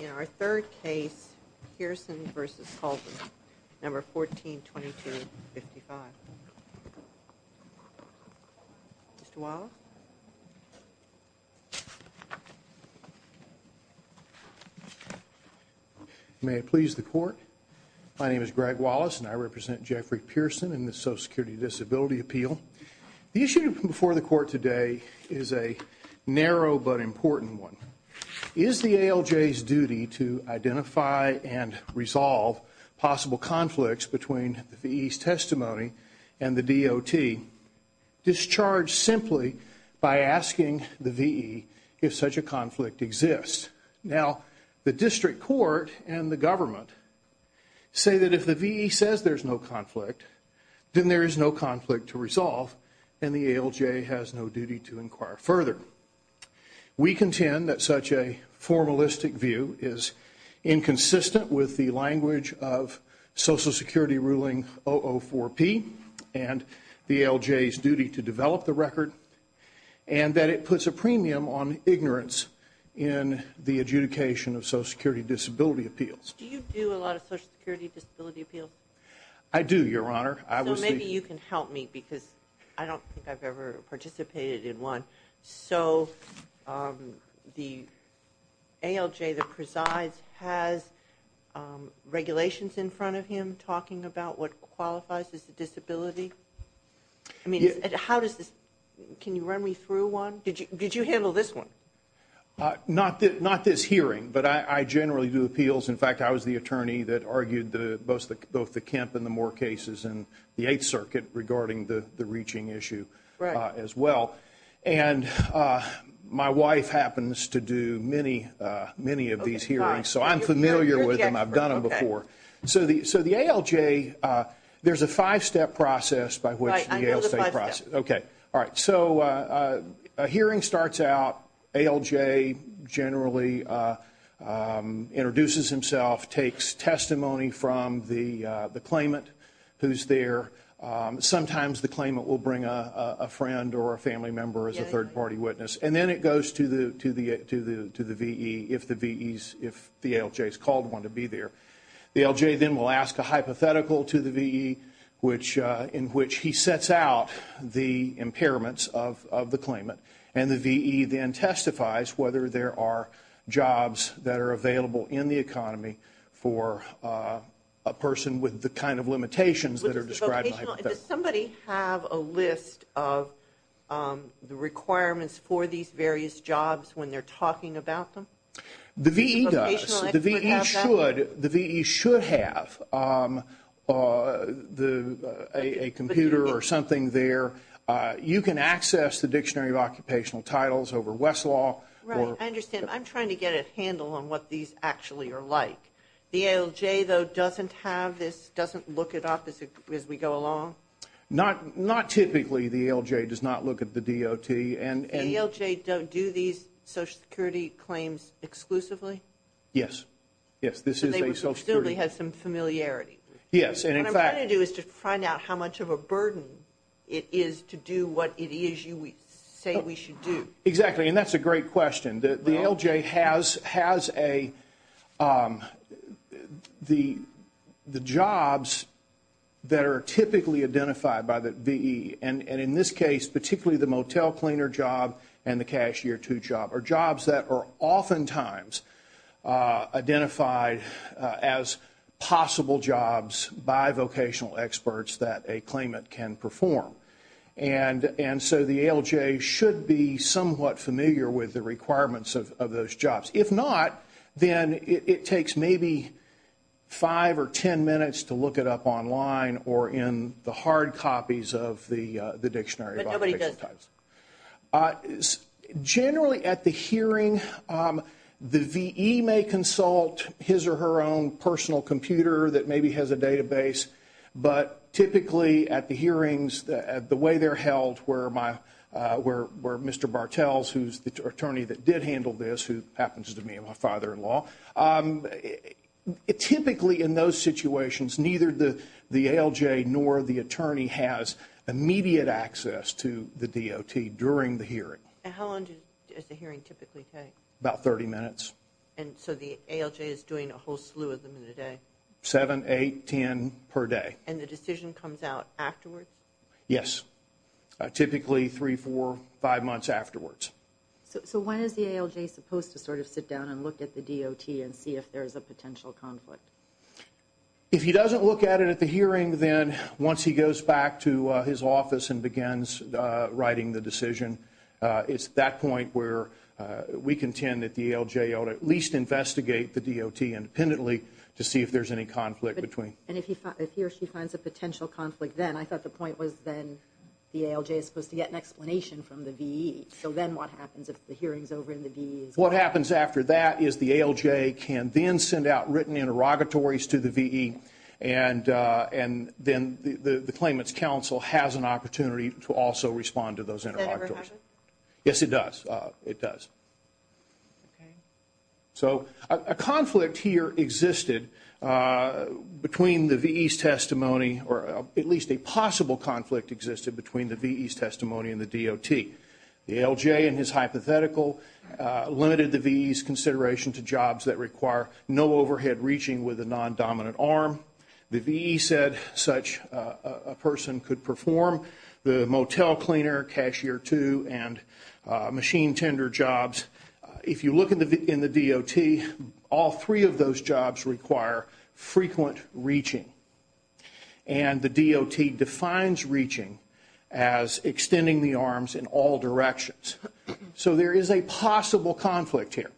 In our third case, Pearson v. Colvin, No. 14-2255. Mr. Wallace. May it please the Court. My name is Greg Wallace, and I represent Jeffrey Pearson in the Social Security Disability Appeal. The issue before the Court today is a narrow but important one. Is the ALJ's duty to identify and resolve possible conflicts between the V.E.'s testimony and the DOT discharged simply by asking the V.E. if such a conflict exists? Now, the District Court and the government say that if the V.E. says there's no conflict, then there is no conflict to resolve, and the ALJ has no duty to inquire further. We contend that such a formalistic view is inconsistent with the language of Social Security ruling 004-P and the ALJ's duty to develop the record, and that it puts a premium on ignorance in the adjudication of Social Security Disability Appeals. Do you do a lot of Social Security Disability Appeals? I do, Your Honor. So maybe you can help me because I don't think I've ever participated in one. So the ALJ that presides has regulations in front of him talking about what qualifies as a disability? Can you run me through one? Did you handle this one? Not this hearing, but I generally do appeals. In fact, I was the attorney that argued both the Kemp and the Moore cases in the Eighth Circuit regarding the reaching issue as well. And my wife happens to do many of these hearings, so I'm familiar with them. You're the expert. I've done them before. So the ALJ, there's a five-step process by which the ALJ processes. Right, I know the five steps. Okay, all right. So a hearing starts out. ALJ generally introduces himself, takes testimony from the claimant who's there. Sometimes the claimant will bring a friend or a family member as a third-party witness, and then it goes to the VE if the ALJ has called one to be there. The ALJ then will ask a hypothetical to the VE in which he sets out the impairments of the claimant, and the VE then testifies whether there are jobs that are available in the economy for a person with the kind of limitations that are described in the hypothetical. Does somebody have a list of the requirements for these various jobs when they're talking about them? The VE does. But the VE should have a computer or something there. You can access the Dictionary of Occupational Titles over Westlaw. Right, I understand. I'm trying to get a handle on what these actually are like. The ALJ, though, doesn't have this, doesn't look it up as we go along? Not typically. The ALJ does not look at the DOT. The ALJ do these Social Security claims exclusively? Yes. Yes, this is a Social Security. So they presumably have some familiarity. Yes. What I'm trying to do is to find out how much of a burden it is to do what it is you say we should do. Exactly, and that's a great question. The ALJ has the jobs that are typically identified by the VE, and in this case, particularly the motel cleaner job and the cashier two job, are jobs that are oftentimes identified as possible jobs by vocational experts that a claimant can perform. And so the ALJ should be somewhat familiar with the requirements of those jobs. If not, then it takes maybe five or ten minutes to look it up online or in the hard copies of the dictionary. But nobody does. Generally at the hearing, the VE may consult his or her own personal computer that maybe has a database, but typically at the hearings, the way they're held, where Mr. Bartels, who's the attorney that did handle this, who happens to be my father-in-law, typically in those situations neither the ALJ nor the attorney has immediate access to the DOT during the hearing. And how long does the hearing typically take? About 30 minutes. And so the ALJ is doing a whole slew of them in a day? Seven, eight, ten per day. And the decision comes out afterwards? Yes, typically three, four, five months afterwards. So when is the ALJ supposed to sort of sit down and look at the DOT and see if there's a potential conflict? If he doesn't look at it at the hearing, then once he goes back to his office and begins writing the decision, it's that point where we contend that the ALJ ought to at least investigate the DOT independently to see if there's any conflict. And if he or she finds a potential conflict then? I thought the point was then the ALJ is supposed to get an explanation from the VE. So then what happens if the hearing is over and the VE is gone? What happens after that is the ALJ can then send out written interrogatories to the VE, and then the claimant's counsel has an opportunity to also respond to those interrogatories. Does that ever happen? Yes, it does. It does. So a conflict here existed between the VE's testimony, or at least a possible conflict existed between the VE's testimony and the DOT. The ALJ in his hypothetical limited the VE's consideration to jobs that require no overhead reaching with a non-dominant arm. The VE said such a person could perform the motel cleaner, cashier two, and machine tender jobs. If you look in the DOT, all three of those jobs require frequent reaching. And the DOT defines reaching as extending the arms in all directions. So there is a possible conflict here.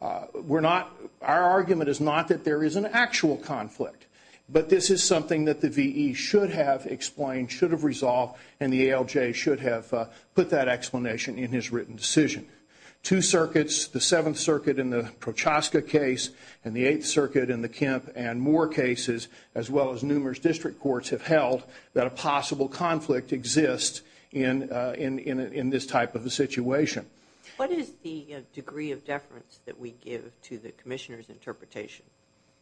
Our argument is not that there is an actual conflict, but this is something that the VE should have explained, should have resolved, and the ALJ should have put that explanation in his written decision. Two circuits, the Seventh Circuit in the Prochaska case and the Eighth Circuit in the Kemp and more cases, as well as numerous district courts, have held that a possible conflict exists in this type of a situation. What is the degree of deference that we give to the Commissioner's interpretation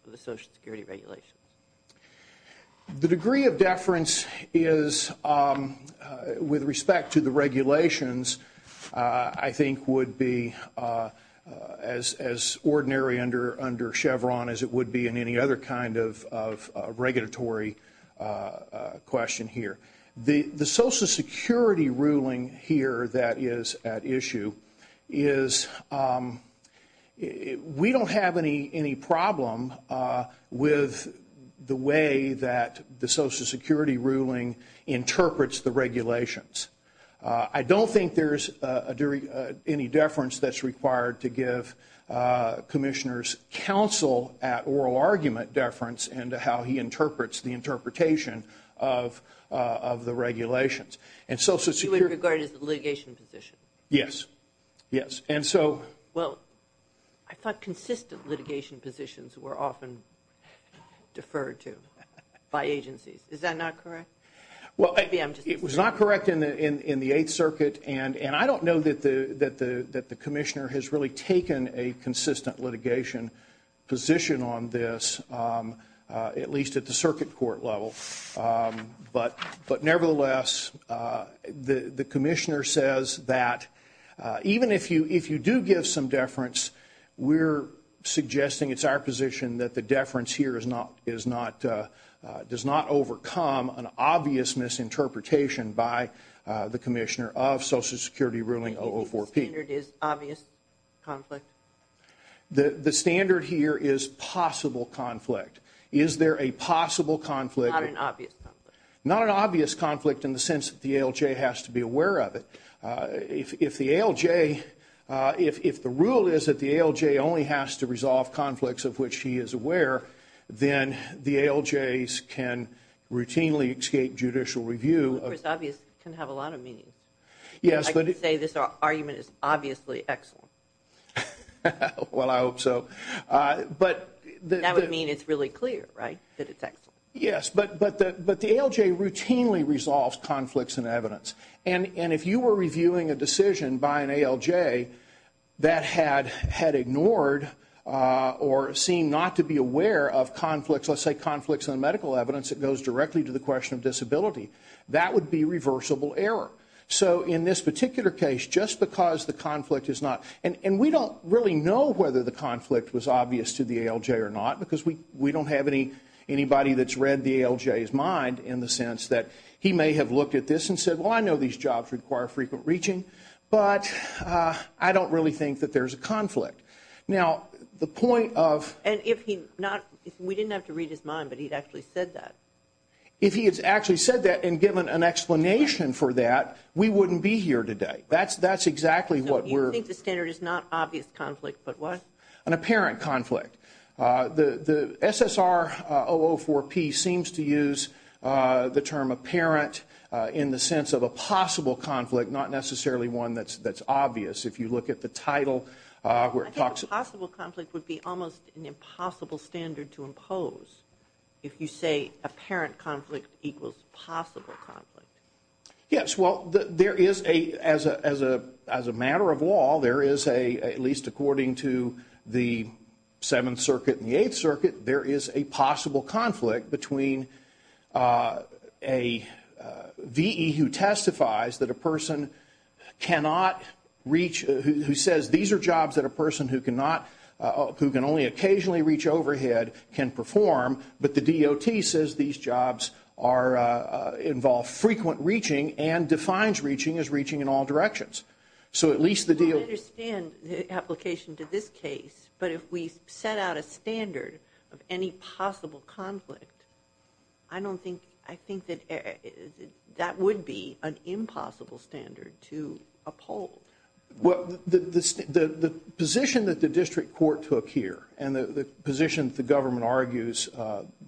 of the Social Security regulations? The degree of deference is, with respect to the regulations, I think would be as ordinary under Chevron as it would be in any other kind of regulatory question here. The Social Security ruling here that is at issue is we don't have any problem with the way that the Social Security ruling interprets the regulations. I don't think there is any deference that is required to give Commissioners' counsel at oral argument deference into how he interprets the interpretation of the regulations. You would regard it as a litigation position? Yes. Well, I thought consistent litigation positions were often deferred to by agencies. Is that not correct? It was not correct in the Eighth Circuit, and I don't know that the Commissioner has really taken a consistent litigation position on this, at least at the circuit court level. But nevertheless, the Commissioner says that even if you do give some deference, we're suggesting it's our position that the deference here does not overcome an obvious misinterpretation by the Commissioner of Social Security ruling 004P. The standard is obvious conflict? The standard here is possible conflict. Is there a possible conflict? Not an obvious conflict. Not an obvious conflict in the sense that the ALJ has to be aware of it. If the rule is that the ALJ only has to resolve conflicts of which he is aware, then the ALJs can routinely escape judicial review. Well, of course, obvious can have a lot of meanings. Yes. I could say this argument is obviously excellent. Well, I hope so. That would mean it's really clear, right, that it's excellent? Yes, but the ALJ routinely resolves conflicts in evidence. And if you were reviewing a decision by an ALJ that had ignored or seemed not to be aware of conflicts, let's say conflicts in medical evidence that goes directly to the question of disability, that would be reversible error. So in this particular case, just because the conflict is not – and we don't really know whether the conflict was obvious to the ALJ or not because we don't have anybody that's read the ALJ's mind in the sense that he may have looked at this and said, well, I know these jobs require frequent reaching, but I don't really think that there's a conflict. Now, the point of – And if he not – we didn't have to read his mind, but he'd actually said that. If he had actually said that and given an explanation for that, we wouldn't be here today. That's exactly what we're – So you think the standard is not obvious conflict, but what? An apparent conflict. The SSR-004P seems to use the term apparent in the sense of a possible conflict, not necessarily one that's obvious. If you look at the title where it talks – I think a possible conflict would be almost an impossible standard to impose if you say apparent conflict equals possible conflict. Yes. Well, there is a – as a matter of law, there is a – at least according to the Seventh Circuit and the Eighth Circuit, there is a possible conflict between a VE who testifies that a person cannot reach – who says these are jobs that a person who cannot – who can only occasionally reach overhead can perform, but the DOT says these jobs are – involve frequent reaching and defines reaching as reaching in all directions. So at least the – I understand the application to this case, but if we set out a standard of any possible conflict, I don't think – I think that that would be an impossible standard to uphold. Well, the position that the district court took here and the position that the government argues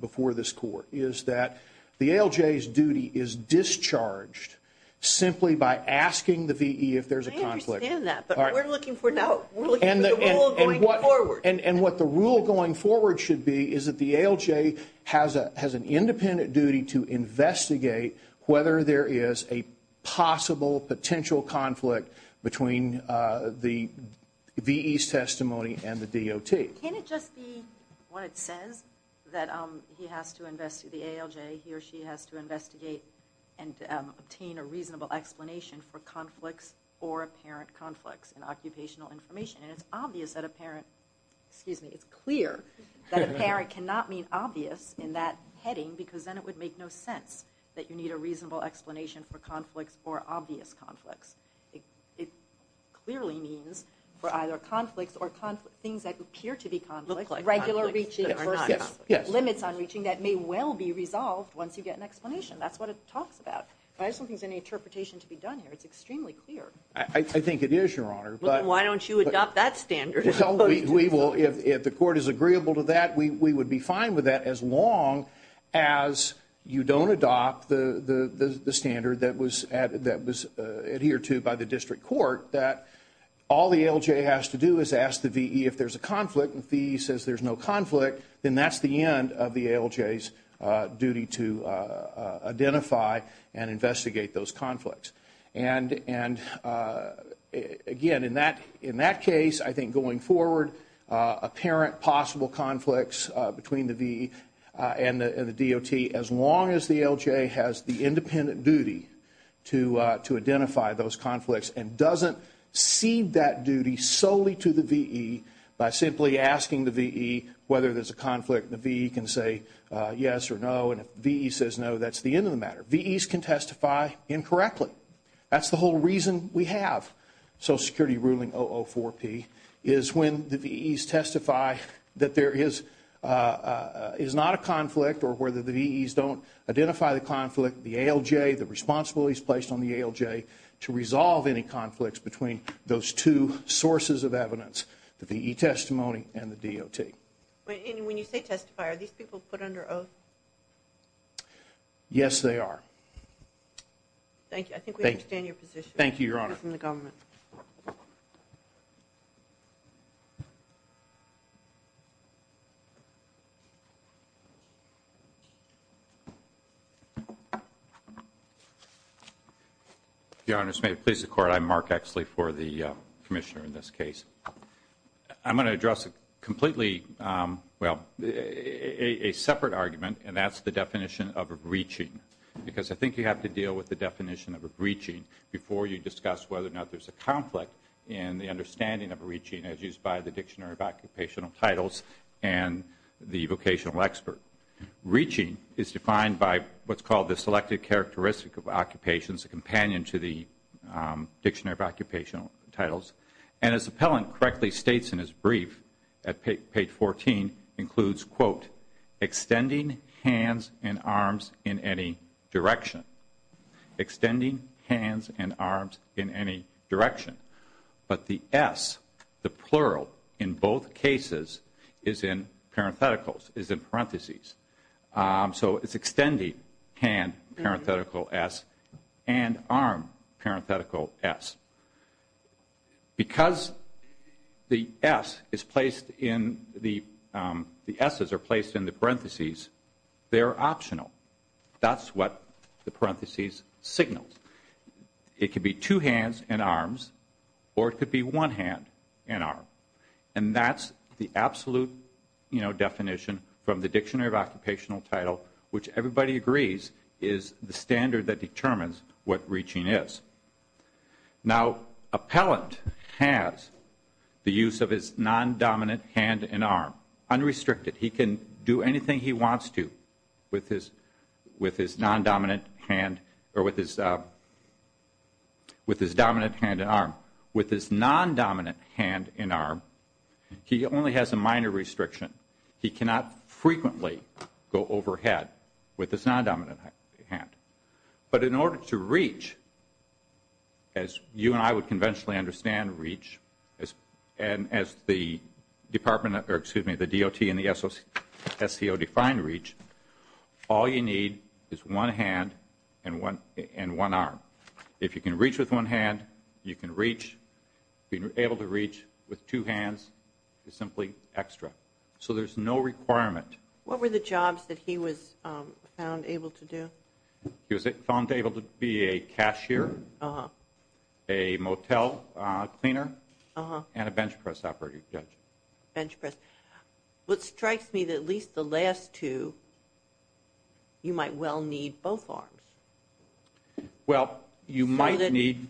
before this court is that the ALJ's duty is discharged simply by asking the VE if there's a conflict. I understand that, but we're looking for now – we're looking for the rule going forward. And what the rule going forward should be is that the ALJ has an independent duty to investigate whether there is a possible potential conflict between the VE's testimony and the DOT. Can't it just be when it says that he has to investigate – the ALJ, he or she has to investigate and obtain a reasonable explanation for conflicts or apparent conflicts in occupational information? And it's obvious that apparent – excuse me, it's clear that apparent cannot mean obvious in that heading because then it would make no sense that you need a reasonable explanation for conflicts or obvious conflicts. It clearly means for either conflicts or things that appear to be conflicts, regular reaching or not. Limits on reaching that may well be resolved once you get an explanation. That's what it talks about. But I just don't think there's any interpretation to be done here. It's extremely clear. I think it is, Your Honor. Well, then why don't you adopt that standard? We will. If the court is agreeable to that, we would be fine with that as long as you don't adopt the standard that was adhered to by the district court that all the ALJ has to do is ask the VE if there's a conflict. If the VE says there's no conflict, then that's the end of the ALJ's duty to identify and investigate those conflicts. And again, in that case, I think going forward, apparent possible conflicts between the VE and the DOT, as long as the ALJ has the independent duty to identify those conflicts and doesn't cede that duty solely to the VE by simply asking the VE whether there's a conflict, the VE can say yes or no, and if the VE says no, that's the end of the matter. VEs can testify incorrectly. That's the whole reason we have Social Security ruling 004-P is when the VEs testify that there is not a conflict or whether the VEs don't identify the conflict, the ALJ, the responsibility is placed on the ALJ to resolve any conflicts between those two sources of evidence, the VE testimony and the DOT. And when you say testify, are these people put under oath? Yes, they are. Thank you. I think we understand your position. Thank you, Your Honor. Your Honors, may it please the Court, I'm Mark Exley for the Commissioner in this case. I'm going to address completely a separate argument, and that's the definition of a breaching, because I think you have to deal with the definition of a breaching before you discuss whether or not there's a conflict in the understanding of a breaching as used by the Dictionary of Occupational Titles and the vocational expert. Breaching is defined by what's called the Selective Characteristic of Occupations, a companion to the Dictionary of Occupational Titles, and as the appellant correctly states in his brief at page 14, includes, quote, extending hands and arms in any direction. Extending hands and arms in any direction. But the S, the plural in both cases, is in parentheticals, is in parentheses. So it's extending hand, parenthetical S, and arm, parenthetical S. Because the S is placed in the parentheses, they're optional. That's what the parentheses signal. It could be two hands and arms, or it could be one hand and arm. And that's the absolute definition from the Dictionary of Occupational Title, which everybody agrees is the standard that determines what reaching is. Now, appellant has the use of his non-dominant hand and arm unrestricted. He can do anything he wants to with his non-dominant hand or with his dominant hand and arm. With his non-dominant hand and arm, he only has a minor restriction. He cannot frequently go overhead with his non-dominant hand. But in order to reach, as you and I would conventionally understand reach, and as the DOT and the SCO define reach, all you need is one hand and one arm. If you can reach with one hand, you can reach. Being able to reach with two hands is simply extra. So there's no requirement. What were the jobs that he was found able to do? He was found able to be a cashier, a motel cleaner, and a bench press operator. Bench press. What strikes me that at least the last two, you might well need both arms. Well, you might need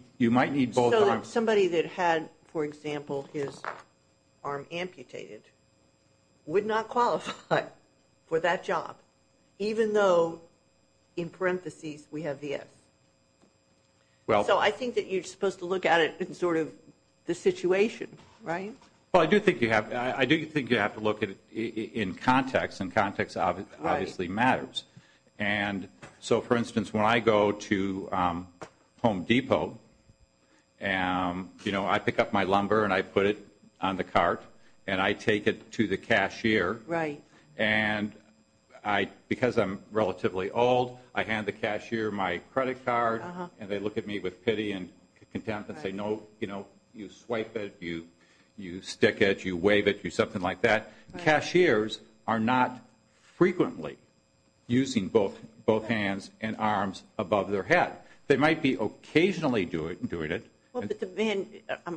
both arms. So somebody that had, for example, his arm amputated would not qualify for that job, even though in parentheses we have the F. So I think that you're supposed to look at it in sort of the situation, right? Well, I do think you have to look at it in context, and context obviously matters. So, for instance, when I go to Home Depot, I pick up my lumber and I put it on the cart, and I take it to the cashier. And because I'm relatively old, I hand the cashier my credit card, and they look at me with pity and contempt and say, no, you swipe it, you stick it, you wave it, you something like that. Cashiers are not frequently using both hands and arms above their head. They might be occasionally doing it.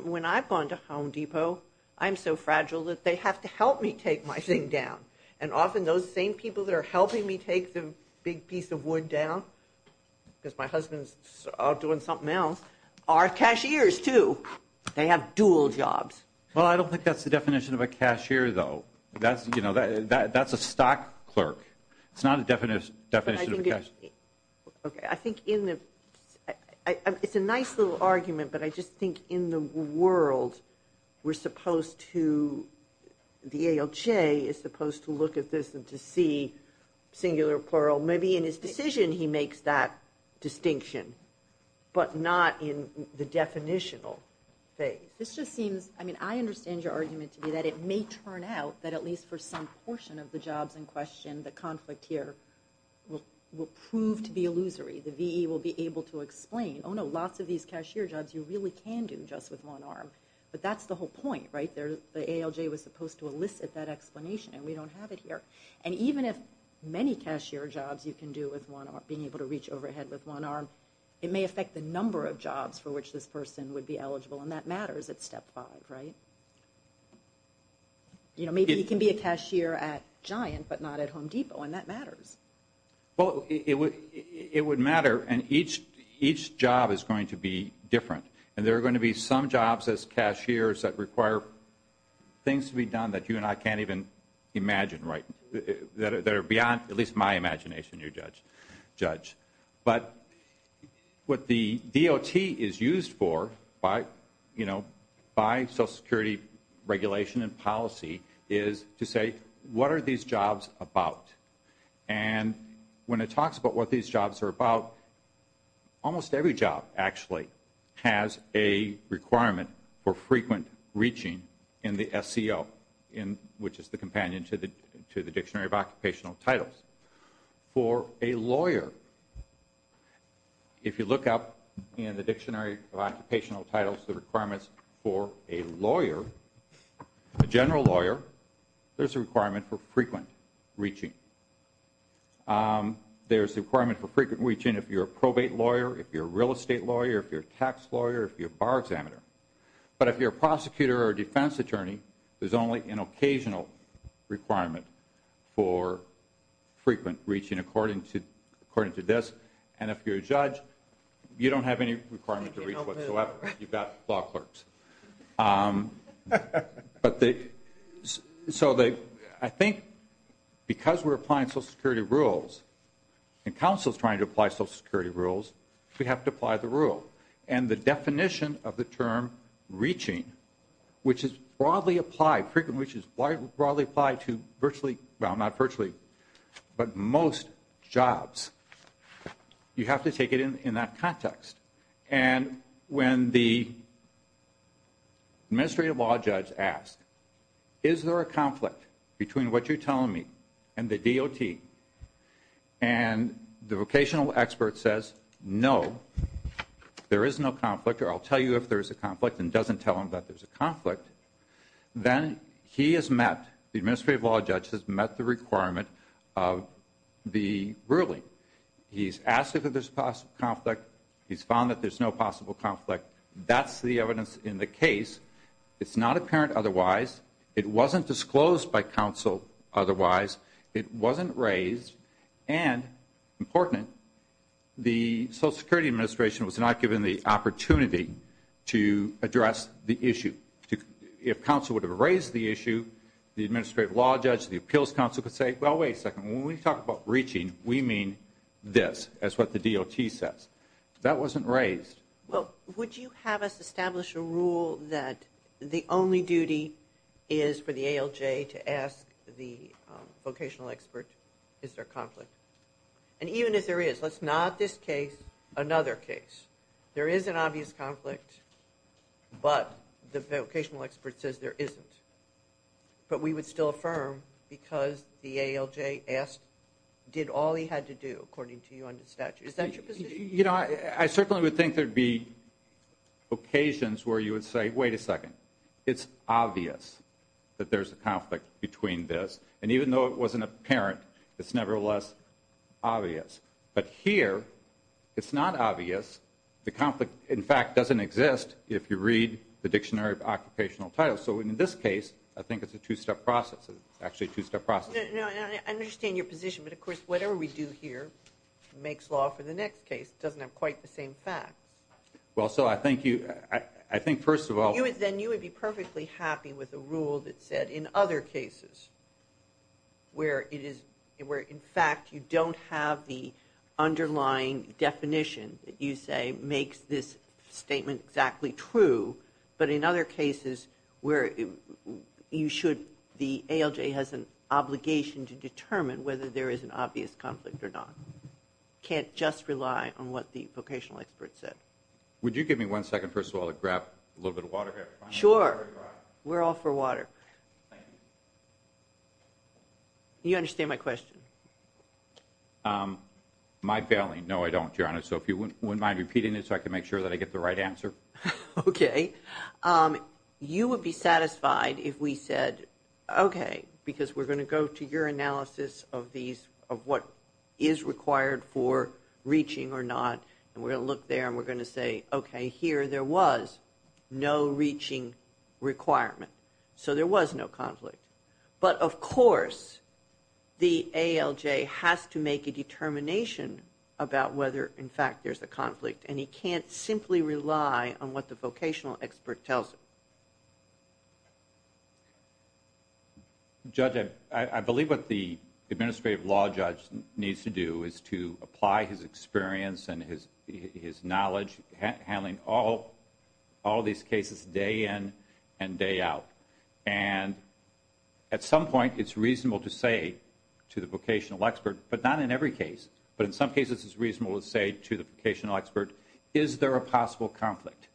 When I've gone to Home Depot, I'm so fragile that they have to help me take my thing down. And often those same people that are helping me take the big piece of wood down, because my husband's out doing something else, are cashiers too. They have dual jobs. Well, I don't think that's the definition of a cashier, though. That's a stock clerk. It's not a definition of a cashier. I think it's a nice little argument, but I just think in the world we're supposed to, the ALJ is supposed to look at this and to see, singular or plural, maybe in his decision he makes that distinction, but not in the definitional phase. This just seems, I mean, I understand your argument to be that it may turn out that at least for some portion of the jobs in question, the conflict here will prove to be illusory. The VE will be able to explain, oh no, lots of these cashier jobs you really can do just with one arm. But that's the whole point, right? The ALJ was supposed to elicit that explanation, and we don't have it here. And even if many cashier jobs you can do with one arm, being able to reach overhead with one arm, it may affect the number of jobs for which this person would be eligible, and that matters at step five, right? You know, maybe he can be a cashier at Giant but not at Home Depot, and that matters. Well, it would matter, and each job is going to be different. And there are going to be some jobs as cashiers that require things to be done that you and I can't even imagine, right, that are beyond at least my imagination, your judge. But what the DOT is used for by, you know, by Social Security regulation and policy is to say, what are these jobs about? And when it talks about what these jobs are about, almost every job actually has a requirement for frequent reaching in the SCO, which is the companion to the Dictionary of Occupational Titles. For a lawyer, if you look up in the Dictionary of Occupational Titles the requirements for a lawyer, a general lawyer, there's a requirement for frequent reaching. There's a requirement for frequent reaching if you're a probate lawyer, if you're a real estate lawyer, if you're a tax lawyer, if you're a bar examiner. But if you're a prosecutor or a defense attorney, there's only an occasional requirement for frequent reaching, according to this. And if you're a judge, you don't have any requirement to reach whatsoever. You've got law clerks. So I think because we're applying Social Security rules and counsel's trying to apply Social Security rules, we have to apply the rule. And the definition of the term reaching, which is broadly applied to virtually, well, not virtually, but most jobs, you have to take it in that context. And when the administrative law judge asks, is there a conflict between what you're telling me and the DOT, and the vocational expert says, no, there is no conflict, or I'll tell you if there's a conflict and doesn't tell him that there's a conflict, then he has met, the administrative law judge has met the requirement of the ruling. He's asked if there's a conflict. He's found that there's no possible conflict. That's the evidence in the case. It's not apparent otherwise. It wasn't disclosed by counsel otherwise. It wasn't raised. And, important, the Social Security Administration was not given the opportunity to address the issue. If counsel would have raised the issue, the administrative law judge, the appeals counsel could say, well, wait a second, when we talk about reaching, we mean this, as what the DOT says. That wasn't raised. Well, would you have us establish a rule that the only duty is for the ALJ to ask the vocational expert, is there conflict? And even if there is, let's not this case, another case. There is an obvious conflict, but the vocational expert says there isn't. But we would still affirm because the ALJ asked, did all he had to do, according to you under the statute. Is that your position? You know, I certainly would think there would be occasions where you would say, wait a second, it's obvious that there's a conflict between this. And even though it wasn't apparent, it's nevertheless obvious. But here, it's not obvious. The conflict, in fact, doesn't exist if you read the Dictionary of Occupational Titles. So in this case, I think it's a two-step process. It's actually a two-step process. I understand your position, but, of course, whatever we do here makes law for the next case. It doesn't have quite the same facts. Well, so I think you – I think, first of all – Then you would be perfectly happy with a rule that said, in other cases, where it is – where, in fact, you don't have the underlying definition that you say makes this statement exactly true, but in other cases where you should – the ALJ has an obligation to determine whether there is an obvious conflict or not. Can't just rely on what the vocational expert said. Would you give me one second, first of all, to grab a little bit of water here? Sure. We're all for water. You understand my question? My family – no, I don't, Your Honor. So if you wouldn't mind repeating it so I can make sure that I get the right answer. Okay. You would be satisfied if we said, okay, because we're going to go to your analysis of these – of what is required for reaching or not, and we're going to look there and we're going to say, okay, here there was no reaching requirement, so there was no conflict. But, of course, the ALJ has to make a determination about whether, in fact, there's a conflict, and he can't simply rely on what the vocational expert tells him. Judge, I believe what the administrative law judge needs to do is to apply his experience and his knowledge handling all of these cases day in and day out. And at some point it's reasonable to say to the vocational expert, but not in every case, but in some cases it's reasonable to say to the vocational expert, is there a possible conflict?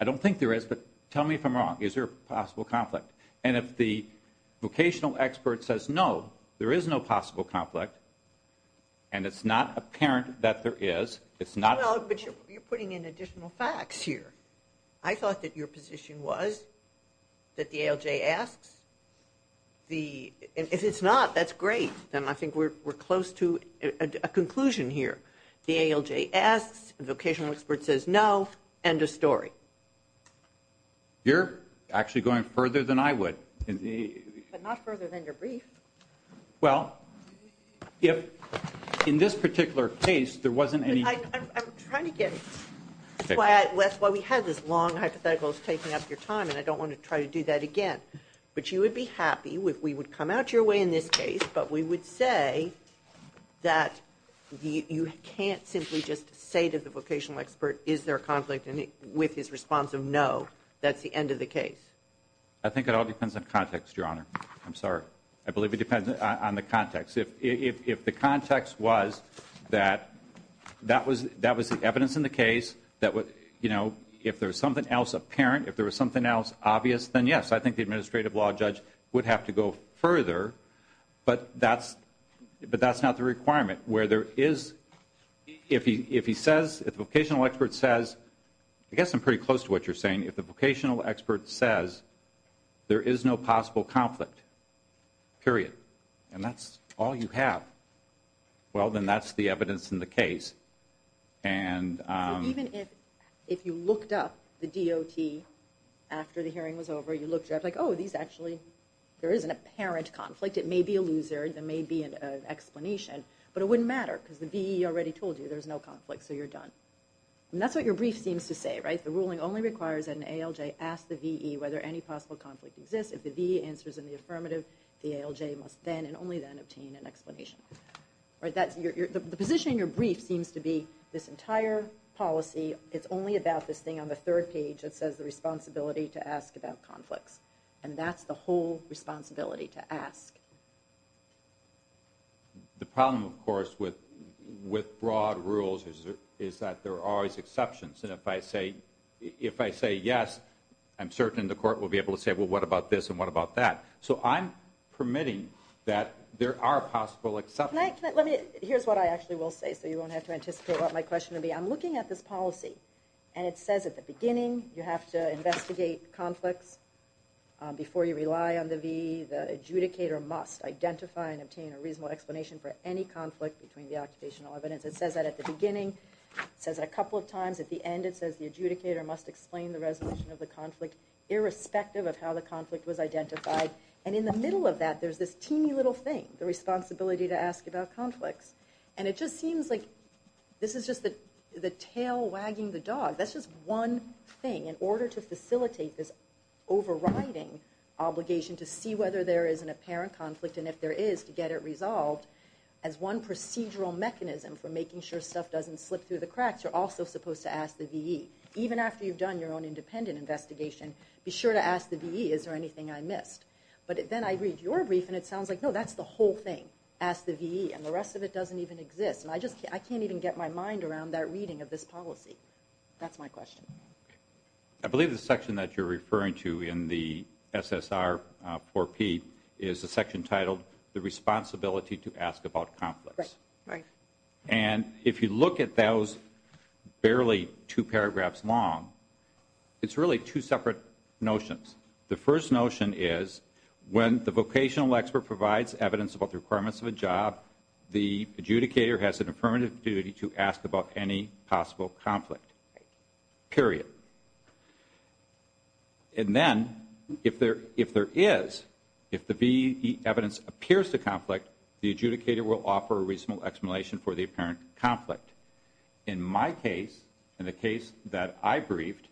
I don't think there is, but tell me if I'm wrong. Is there a possible conflict? And if the vocational expert says no, there is no possible conflict, and it's not apparent that there is, it's not – Well, but you're putting in additional facts here. I thought that your position was that the ALJ asks the – if it's not, that's great. Then I think we're close to a conclusion here. The ALJ asks, the vocational expert says no, end of story. You're actually going further than I would. But not further than your brief. Well, if in this particular case there wasn't any – I'm trying to get – that's why we had this long hypothetical taking up your time, and I don't want to try to do that again. But you would be happy if we would come out your way in this case, but we would say that you can't simply just say to the vocational expert, is there a conflict, and with his response of no, that's the end of the case. I think it all depends on context, Your Honor. I'm sorry. I believe it depends on the context. If the context was that that was the evidence in the case that, you know, if there was something else apparent, if there was something else obvious, then yes. I think the administrative law judge would have to go further, but that's not the requirement. Where there is – if he says – if the vocational expert says – I guess I'm pretty close to what you're saying. If the vocational expert says there is no possible conflict, period, and that's all you have, well, then that's the evidence in the case. So even if you looked up the DOT after the hearing was over, you looked, you're like, oh, these actually – there is an apparent conflict. It may be a loser. There may be an explanation. But it wouldn't matter because the VE already told you there's no conflict, so you're done. And that's what your brief seems to say, right? The ruling only requires that an ALJ ask the VE whether any possible conflict exists. If the VE answers in the affirmative, the ALJ must then and only then obtain an explanation. The position in your brief seems to be this entire policy is only about this thing on the third page that says the responsibility to ask about conflicts. And that's the whole responsibility to ask. The problem, of course, with broad rules is that there are always exceptions. And if I say yes, I'm certain the court will be able to say, well, what about this and what about that? So I'm permitting that there are possible exceptions. Can I – let me – here's what I actually will say so you won't have to anticipate what my question will be. I'm looking at this policy, and it says at the beginning you have to investigate conflicts before you rely on the VE. The adjudicator must identify and obtain a reasonable explanation for any conflict between the occupational evidence. It says that at the beginning. It says it a couple of times. At the end, it says the adjudicator must explain the resolution of the conflict irrespective of how the conflict was identified. And in the middle of that, there's this teeny little thing, the responsibility to ask about conflicts. And it just seems like this is just the tail wagging the dog. That's just one thing. In order to facilitate this overriding obligation to see whether there is an apparent conflict and if there is, to get it resolved as one procedural mechanism for making sure stuff doesn't slip through the cracks, you're also supposed to ask the VE. Even after you've done your own independent investigation, be sure to ask the VE, is there anything I missed? But then I read your brief, and it sounds like, no, that's the whole thing. Ask the VE, and the rest of it doesn't even exist. And I can't even get my mind around that reading of this policy. That's my question. I believe the section that you're referring to in the SSR 4P is the section titled, The Responsibility to Ask About Conflicts. Right. And if you look at those barely two paragraphs long, it's really two separate notions. The first notion is when the vocational expert provides evidence about the requirements of a job, the adjudicator has an affirmative duty to ask about any possible conflict, period. And then if there is, if the VE evidence appears to conflict, the adjudicator will offer a reasonable explanation for the apparent conflict. In my case, in the case that I briefed,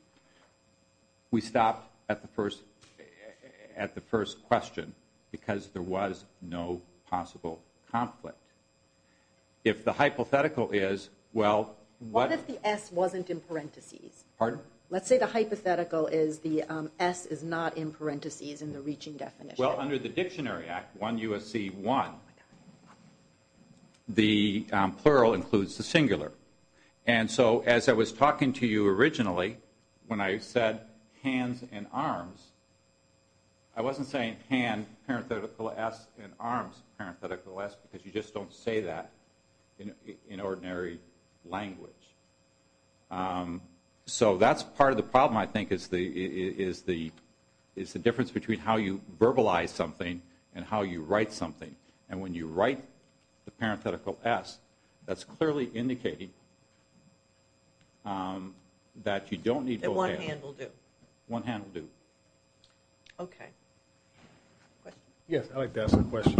we stopped at the first question because there was no possible conflict. If the hypothetical is, well, what if the S wasn't in parentheses? Pardon? Let's say the hypothetical is the S is not in parentheses in the reaching definition. Well, under the Dictionary Act, 1 U.S.C. 1, the plural includes the singular. And so as I was talking to you originally, when I said hands and arms, I wasn't saying hand, parenthetical S, and arms, parenthetical S, because you just don't say that in ordinary language. So that's part of the problem, I think, is the difference between how you verbalize something and how you write something. And when you write the parenthetical S, that's clearly indicating that you don't need both hands. That one hand will do. One hand will do. Okay. Yes, I'd like to ask a question.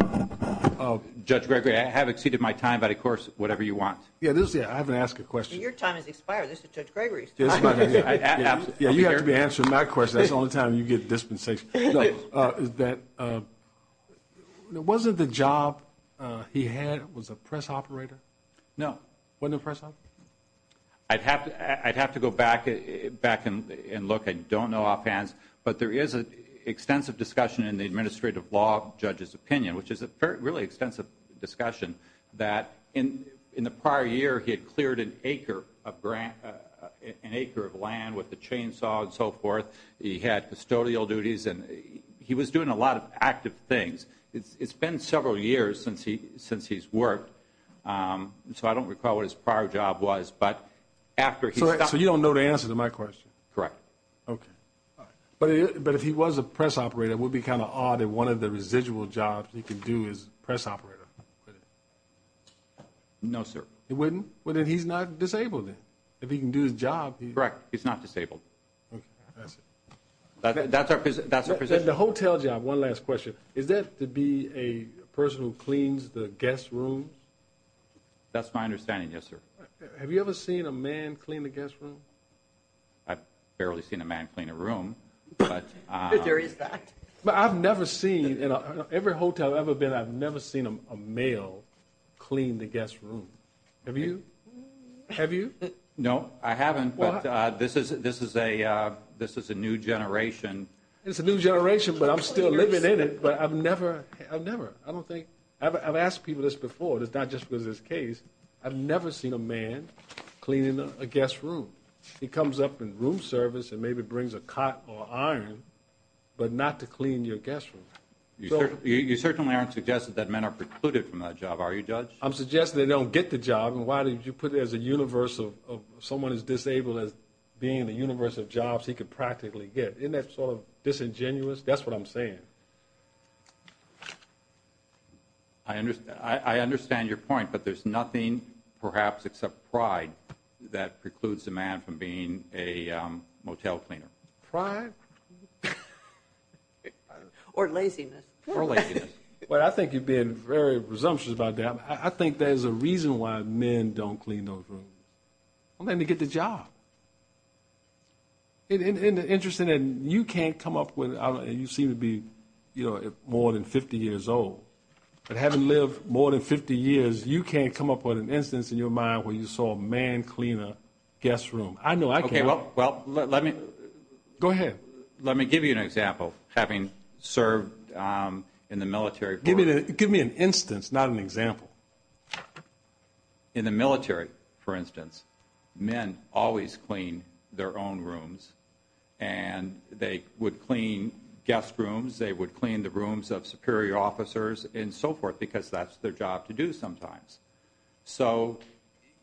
Judge Gregory, I have exceeded my time, but of course, whatever you want. Yeah, I haven't asked a question. Your time has expired. This is Judge Gregory's time. Yeah, you have to be answering my question. That's the only time you get dispensation. Wasn't the job he had, was a press operator? No. Wasn't a press operator? I'd have to go back and look. I don't know offhand, but there is an extensive discussion in the administrative law judge's opinion, which is a really extensive discussion, that in the prior year he had cleared an acre of land with a chainsaw and so forth, he had custodial duties, and he was doing a lot of active things. It's been several years since he's worked, so I don't recall what his prior job was. So you don't know the answer to my question? Correct. Okay. But if he was a press operator, it would be kind of odd that one of the residual jobs he could do is press operator, would it? No, sir. He wouldn't? Well, then he's not disabled then. If he can do his job. Correct. He's not disabled. Okay. That's it. That's our position. The hotel job, one last question. Is that to be a person who cleans the guest rooms? That's my understanding, yes, sir. Have you ever seen a man clean a guest room? I've barely seen a man clean a room. There is that. But I've never seen, in every hotel I've ever been, I've never seen a male clean the guest room. Have you? Have you? No, I haven't, but this is a new generation. It's a new generation, but I'm still living in it, but I've never, I've never, I don't think, I've asked people this before, but it's not just because of this case, I've never seen a man cleaning a guest room. He comes up in room service and maybe brings a cot or iron, but not to clean your guest room. You certainly aren't suggesting that men are precluded from that job, are you, Judge? I'm suggesting they don't get the job, and why did you put it as a universal, someone who's disabled as being the universal jobs he could practically get? Isn't that sort of disingenuous? That's what I'm saying. Thank you. I understand your point, but there's nothing, perhaps, except pride that precludes a man from being a motel cleaner. Pride? Or laziness. Or laziness. Well, I think you're being very presumptuous about that. I think there's a reason why men don't clean those rooms. They don't get the job. It's interesting that you can't come up with, and you seem to be more than 50 years old, but having lived more than 50 years, you can't come up with an instance in your mind where you saw a man clean a guest room. I know I can. Okay, well, let me give you an example, having served in the military. Give me an instance, not an example. In the military, for instance, men always clean their own rooms, and they would clean guest rooms, they would clean the rooms of superior officers, and so forth, because that's their job to do sometimes. So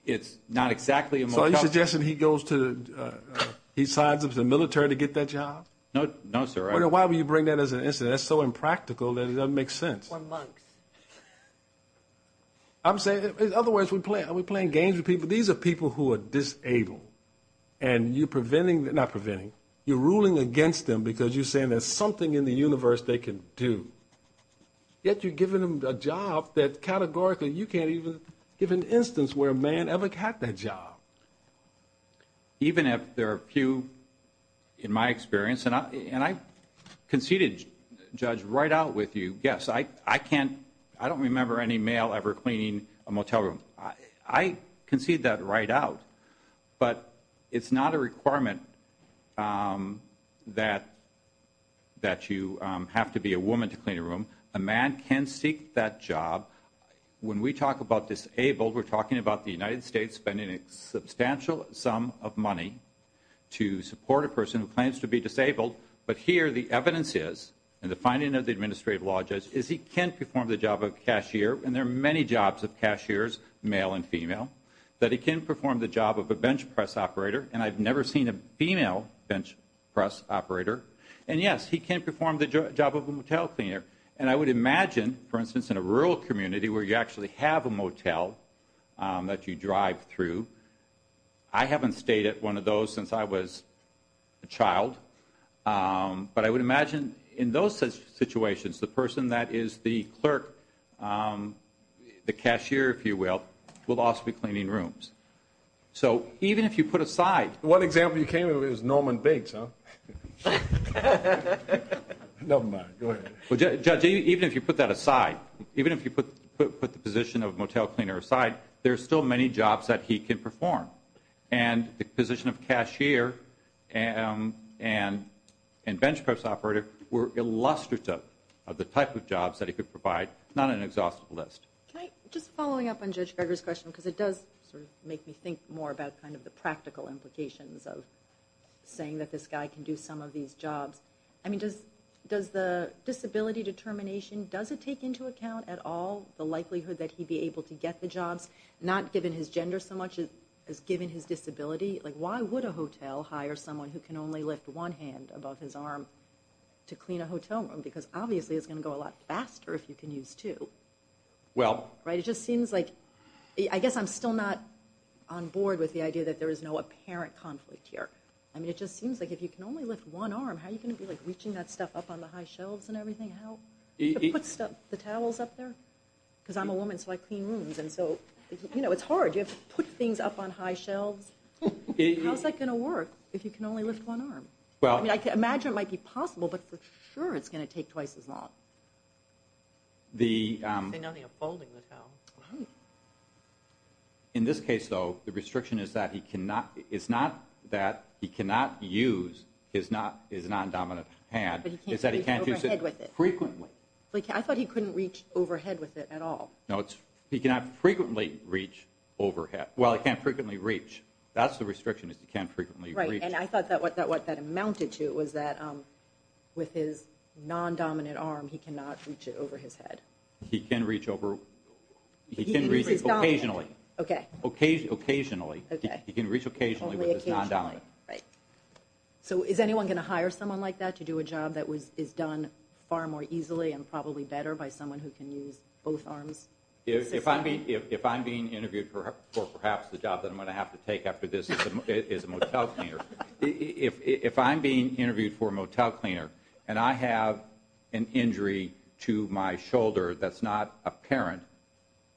it's not exactly a motel. So are you suggesting he signs up to the military to get that job? No, sir. Why would you bring that as an instance? That's so impractical that it doesn't make sense. We're monks. In other words, are we playing games with people? These are people who are disabled, and you're ruling against them because you're saying there's something in the universe they can do, yet you're giving them a job that categorically you can't even give an instance where a man ever got that job. Even if there are a few, in my experience, and I conceded, Judge, right out with you, yes, I don't remember any male ever cleaning a motel room. I concede that right out. But it's not a requirement that you have to be a woman to clean a room. A man can seek that job. When we talk about disabled, we're talking about the United States spending a substantial sum of money to support a person who claims to be disabled, but here the evidence is, and the finding of the administrative law judge, is he can perform the job of a cashier, and there are many jobs of cashiers, male and female, that he can perform the job of a bench press operator, and I've never seen a female bench press operator. And, yes, he can perform the job of a motel cleaner. And I would imagine, for instance, in a rural community where you actually have a motel that you drive through, I haven't stayed at one of those since I was a child, but I would imagine in those situations the person that is the clerk, the cashier, if you will, will also be cleaning rooms. So even if you put aside. One example you came up with is Norman Bates, huh? Never mind. Go ahead. Well, Judge, even if you put that aside, even if you put the position of motel cleaner aside, there are still many jobs that he can perform. And the position of cashier and bench press operator were illustrative of the type of jobs that he could provide, not an exhaustive list. Just following up on Judge Greger's question, because it does sort of make me think more about kind of the practical implications of saying that this guy can do some of these jobs. I mean, does the disability determination, does it take into account at all the likelihood that he'd be able to get the jobs, not given his gender so much as given his disability? Like why would a hotel hire someone who can only lift one hand above his arm to clean a hotel room? Because obviously it's going to go a lot faster if you can use two. Well. Right? It just seems like, I guess I'm still not on board with the idea that there is no apparent conflict here. I mean, it just seems like if you can only lift one arm, how are you going to be reaching that stuff up on the high shelves and everything? How do you put the towels up there? Because I'm a woman, so I clean rooms, and so, you know, it's hard. You have to put things up on high shelves. How's that going to work if you can only lift one arm? I mean, I can imagine it might be possible, but for sure it's going to take twice as long. Say nothing of folding the towel. In this case, though, the restriction is that he cannot use his non-dominant hand, is that he can't use it frequently. I thought he couldn't reach overhead with it at all. No, he cannot frequently reach overhead. Well, he can't frequently reach. That's the restriction is he can't frequently reach. Right, and I thought that what that amounted to was that with his non-dominant arm, he cannot reach it over his head. He can reach over. He can reach occasionally. Okay. Occasionally. He can reach occasionally with his non-dominant. Right. So is anyone going to hire someone like that to do a job that is done far more easily and probably better by someone who can use both arms? If I'm being interviewed for perhaps the job that I'm going to have to take after this is a motel cleaner, if I'm being interviewed for a motel cleaner and I have an injury to my shoulder that's not apparent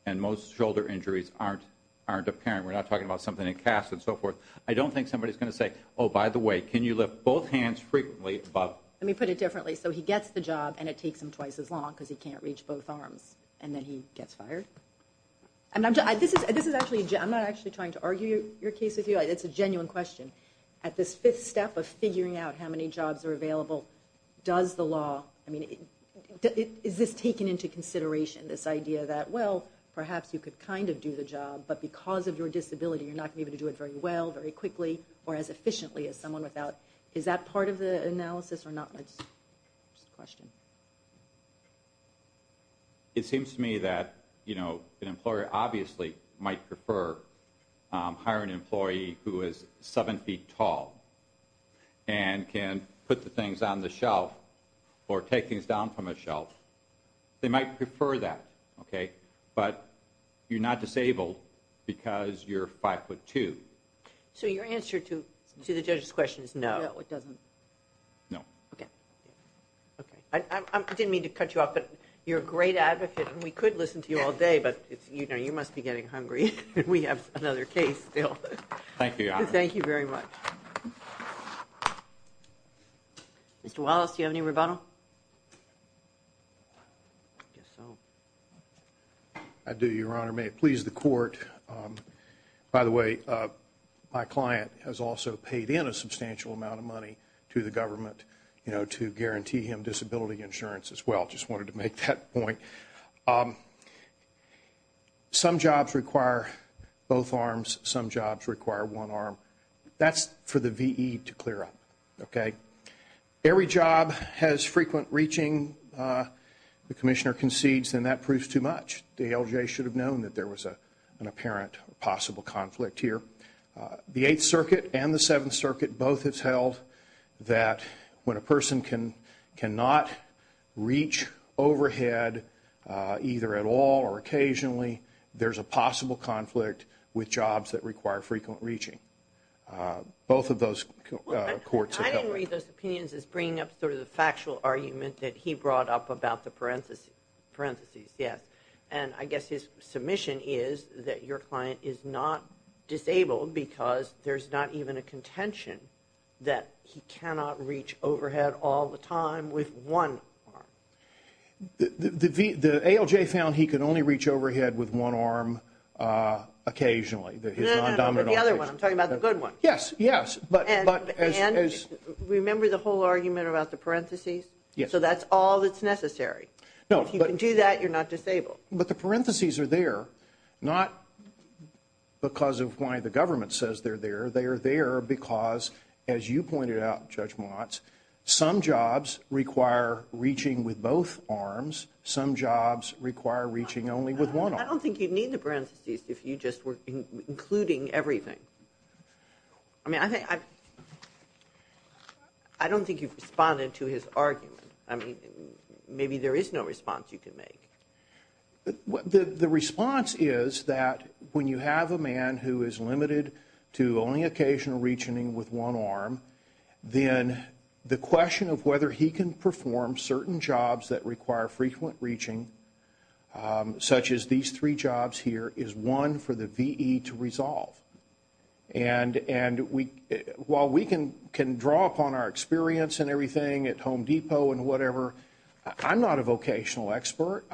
and most shoulder injuries aren't apparent, we're not talking about something in casts and so forth, I don't think somebody's going to say, oh, by the way, can you lift both hands frequently? Let me put it differently. So he gets the job and it takes him twice as long because he can't reach both arms, and then he gets fired? I'm not actually trying to argue your case with you. It's a genuine question. At this fifth step of figuring out how many jobs are available, does the law, I mean, is this taken into consideration, this idea that, well, perhaps you could kind of do the job, but because of your disability you're not going to be able to do it very well, very quickly, or as efficiently as someone without. Is that part of the analysis or not? Just a question. It seems to me that, you know, an employer obviously might prefer to hire an employee who is 7 feet tall and can put the things on the shelf or take things down from a shelf. They might prefer that, okay, but you're not disabled because you're 5 foot 2. So your answer to the judge's question is no. No. Okay. Okay. I didn't mean to cut you off, but you're a great advocate, and we could listen to you all day, but, you know, you must be getting hungry. We have another case still. Thank you, Your Honor. Thank you very much. Mr. Wallace, do you have any rebuttal? I do, Your Honor. May it please the Court. By the way, my client has also paid in a substantial amount of money to the government, you know, to guarantee him disability insurance as well. I just wanted to make that point. Some jobs require both arms. Some jobs require one arm. That's for the VE to clear up, okay? Every job has frequent reaching. The commissioner concedes, then that proves too much. The ALJ should have known that there was an apparent possible conflict here. The Eighth Circuit and the Seventh Circuit both have held that when a person cannot reach overhead either at all or occasionally, there's a possible conflict with jobs that require frequent reaching. Both of those courts have held that. I didn't read those opinions as bringing up sort of the factual argument that he brought up about the parentheses. Yes. And I guess his submission is that your client is not disabled because there's not even a contention that he cannot reach overhead all the time with one arm. The ALJ found he could only reach overhead with one arm occasionally, his non-dominant arm. No, no, no, the other one. I'm talking about the good one. Yes, yes. And remember the whole argument about the parentheses? Yes. So that's all that's necessary. No. If you can do that, you're not disabled. But the parentheses are there, not because of why the government says they're there. They are there because, as you pointed out, Judge Motz, some jobs require reaching with both arms. Some jobs require reaching only with one arm. I don't think you'd need the parentheses if you just were including everything. I mean, I don't think you've responded to his argument. I mean, maybe there is no response you can make. The response is that when you have a man who is limited to only occasional reaching with one arm, then the question of whether he can perform certain jobs that require frequent reaching, such as these three jobs here, is one for the V.E. to resolve. And while we can draw upon our experience and everything at Home Depot and whatever, I'm not a vocational expert.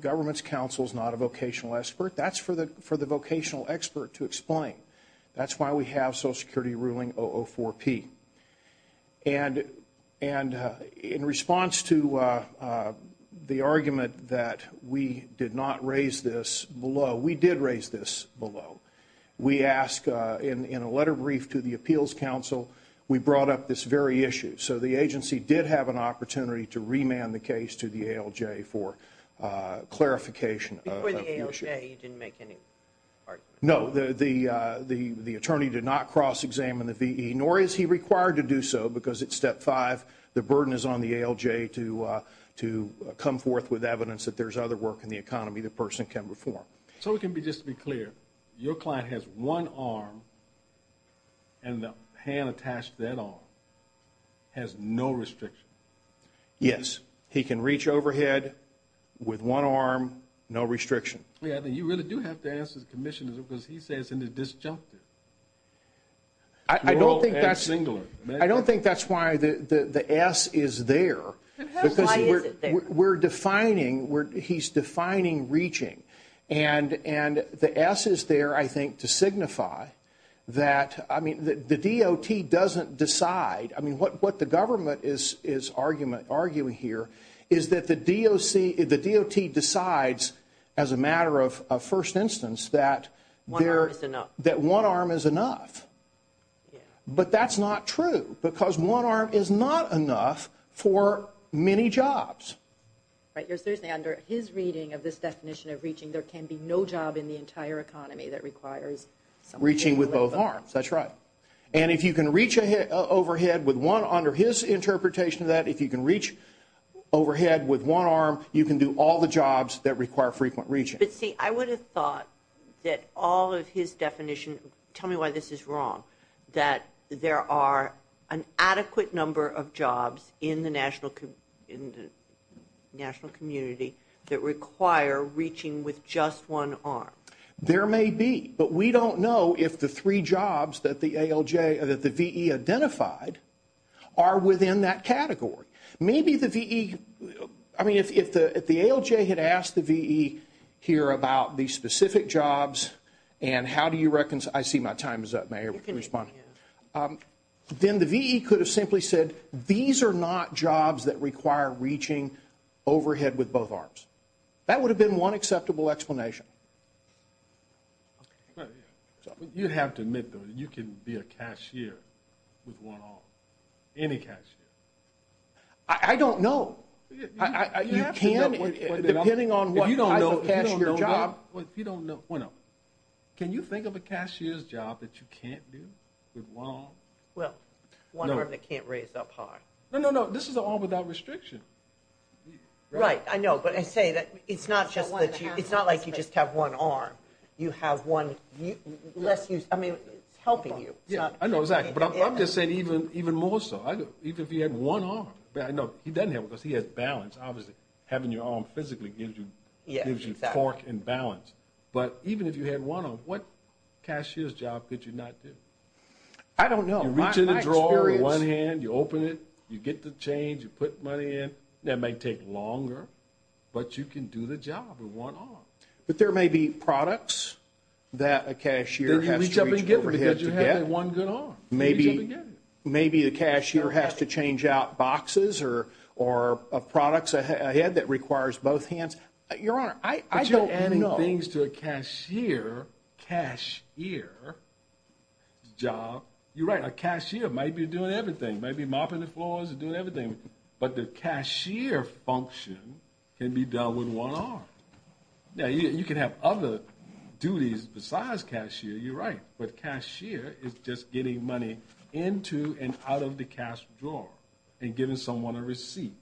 Government's counsel is not a vocational expert. That's for the vocational expert to explain. That's why we have Social Security ruling 004-P. And in response to the argument that we did not raise this below, we did raise this below. We asked in a letter brief to the appeals counsel, we brought up this very issue. So the agency did have an opportunity to remand the case to the ALJ for clarification. Before the ALJ, you didn't make any argument? No. The attorney did not cross-examine the V.E., nor is he required to do so because it's Step 5. The burden is on the ALJ to come forth with evidence that there's other work in the economy the person can perform. So just to be clear, your client has one arm, and the hand attached to that arm has no restriction? Yes. He can reach overhead with one arm, no restriction. You really do have to ask the commissioner because he says it's in the disjunctive. I don't think that's why the S is there. Why is it there? Because we're defining, he's defining reaching. And the S is there, I think, to signify that, I mean, the DOT doesn't decide. I mean, what the government is arguing here is that the DOT decides, as a matter of first instance, that one arm is enough. But that's not true because one arm is not enough for many jobs. But you're saying under his reading of this definition of reaching, there can be no job in the entire economy that requires someone with both arms? Reaching with both arms, that's right. And if you can reach overhead with one, under his interpretation of that, if you can reach overhead with one arm, you can do all the jobs that require frequent reaching. But, see, I would have thought that all of his definition, tell me why this is wrong, that there are an adequate number of jobs in the national community that require reaching with just one arm. There may be. But we don't know if the three jobs that the VE identified are within that category. Maybe the VE, I mean, if the ALJ had asked the VE here about the specific jobs and how do you reconcile, I see my time is up, may I respond? You can. Then the VE could have simply said, these are not jobs that require reaching overhead with both arms. That would have been one acceptable explanation. You have to admit, though, that you can be a cashier with one arm, any cashier. I don't know. You have to know. Depending on what, if you don't know, if you don't know, can you think of a cashier's job that you can't do with one arm? Well, one arm that can't raise up high. No, no, no, this is an arm without restriction. Right, I know. But I say that it's not like you just have one arm. You have one less use. I mean, it's helping you. I know, exactly. But I'm just saying even more so, even if he had one arm. I know he doesn't have one because he has balance, obviously. Having your arm physically gives you torque and balance. But even if you had one arm, what cashier's job could you not do? I don't know. You reach in the drawer with one hand, you open it, you get the change, you put money in. That might take longer, but you can do the job with one arm. But there may be products that a cashier has to reach for a head to get. Then you reach up and get them because you have one good arm. Maybe the cashier has to change out boxes or products, a head that requires both hands. Your Honor, I don't know. But you're adding things to a cashier's job. You're right, a cashier might be doing everything, might be mopping the floors and doing everything. But the cashier function can be done with one arm. You can have other duties besides cashier. You're right. But cashier is just getting money into and out of the cash drawer and giving someone a receipt.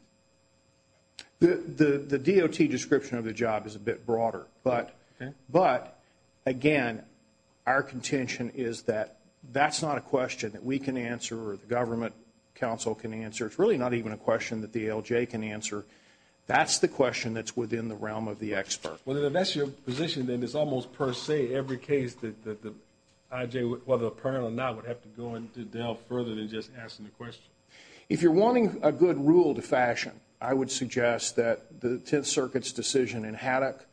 The DOT description of the job is a bit broader. But, again, our contention is that that's not a question that we can answer or the government counsel can answer. It's really not even a question that the ALJ can answer. That's the question that's within the realm of the expert. Well, if that's your position, then it's almost per se every case that the IJ, whether apparent or not, would have to go into delve further than just asking the question. If you're wanting a good rule to fashion, I would suggest that the Tenth Circuit's decision in Haddock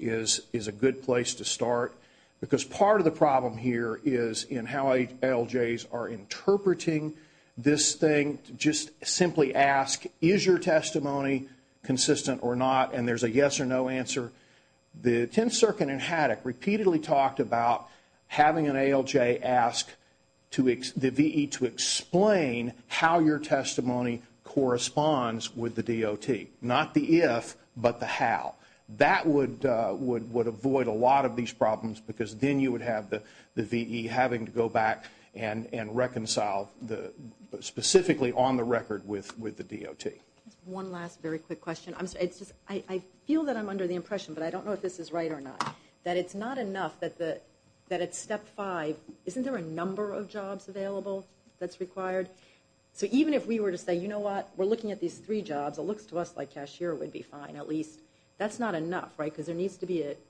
is a good place to start because part of the problem here is in how ALJs are interpreting this thing. Just simply ask, is your testimony consistent or not? And there's a yes or no answer. The Tenth Circuit in Haddock repeatedly talked about having an ALJ ask the VE to explain how your testimony corresponds with the DOT, not the if but the how. That would avoid a lot of these problems because then you would have the VE having to go back and reconcile specifically on the record with the DOT. One last very quick question. I feel that I'm under the impression, but I don't know if this is right or not, that it's not enough that at Step 5 isn't there a number of jobs available that's required? So even if we were to say, you know what, we're looking at these three jobs, it looks to us like cashier would be fine at least. That's not enough, right, because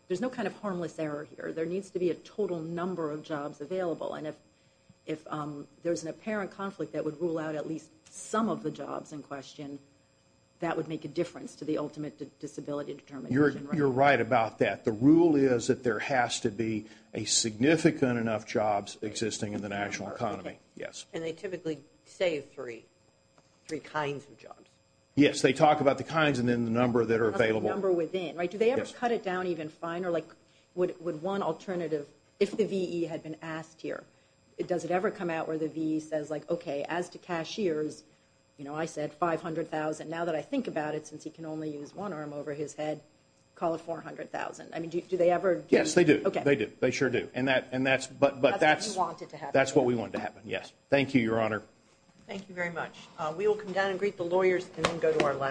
there's no kind of harmless error here. There needs to be a total number of jobs available. And if there's an apparent conflict that would rule out at least some of the jobs in question, that would make a difference to the ultimate disability determination. You're right about that. The rule is that there has to be a significant enough jobs existing in the national economy. And they typically save three kinds of jobs. Yes, they talk about the kinds and then the number that are available. The number within, right? Do they ever cut it down even finer? Like would one alternative, if the VE had been asked here, does it ever come out where the VE says, like, okay, as to cashiers, you know, I said $500,000. Now that I think about it, since he can only use one arm over his head, call it $400,000. I mean, do they ever? Yes, they do. Okay. They do. They sure do. And that's what we want to happen. Yes. Thank you, Your Honor. Thank you very much. We will come down and greet the lawyers and then go to our last.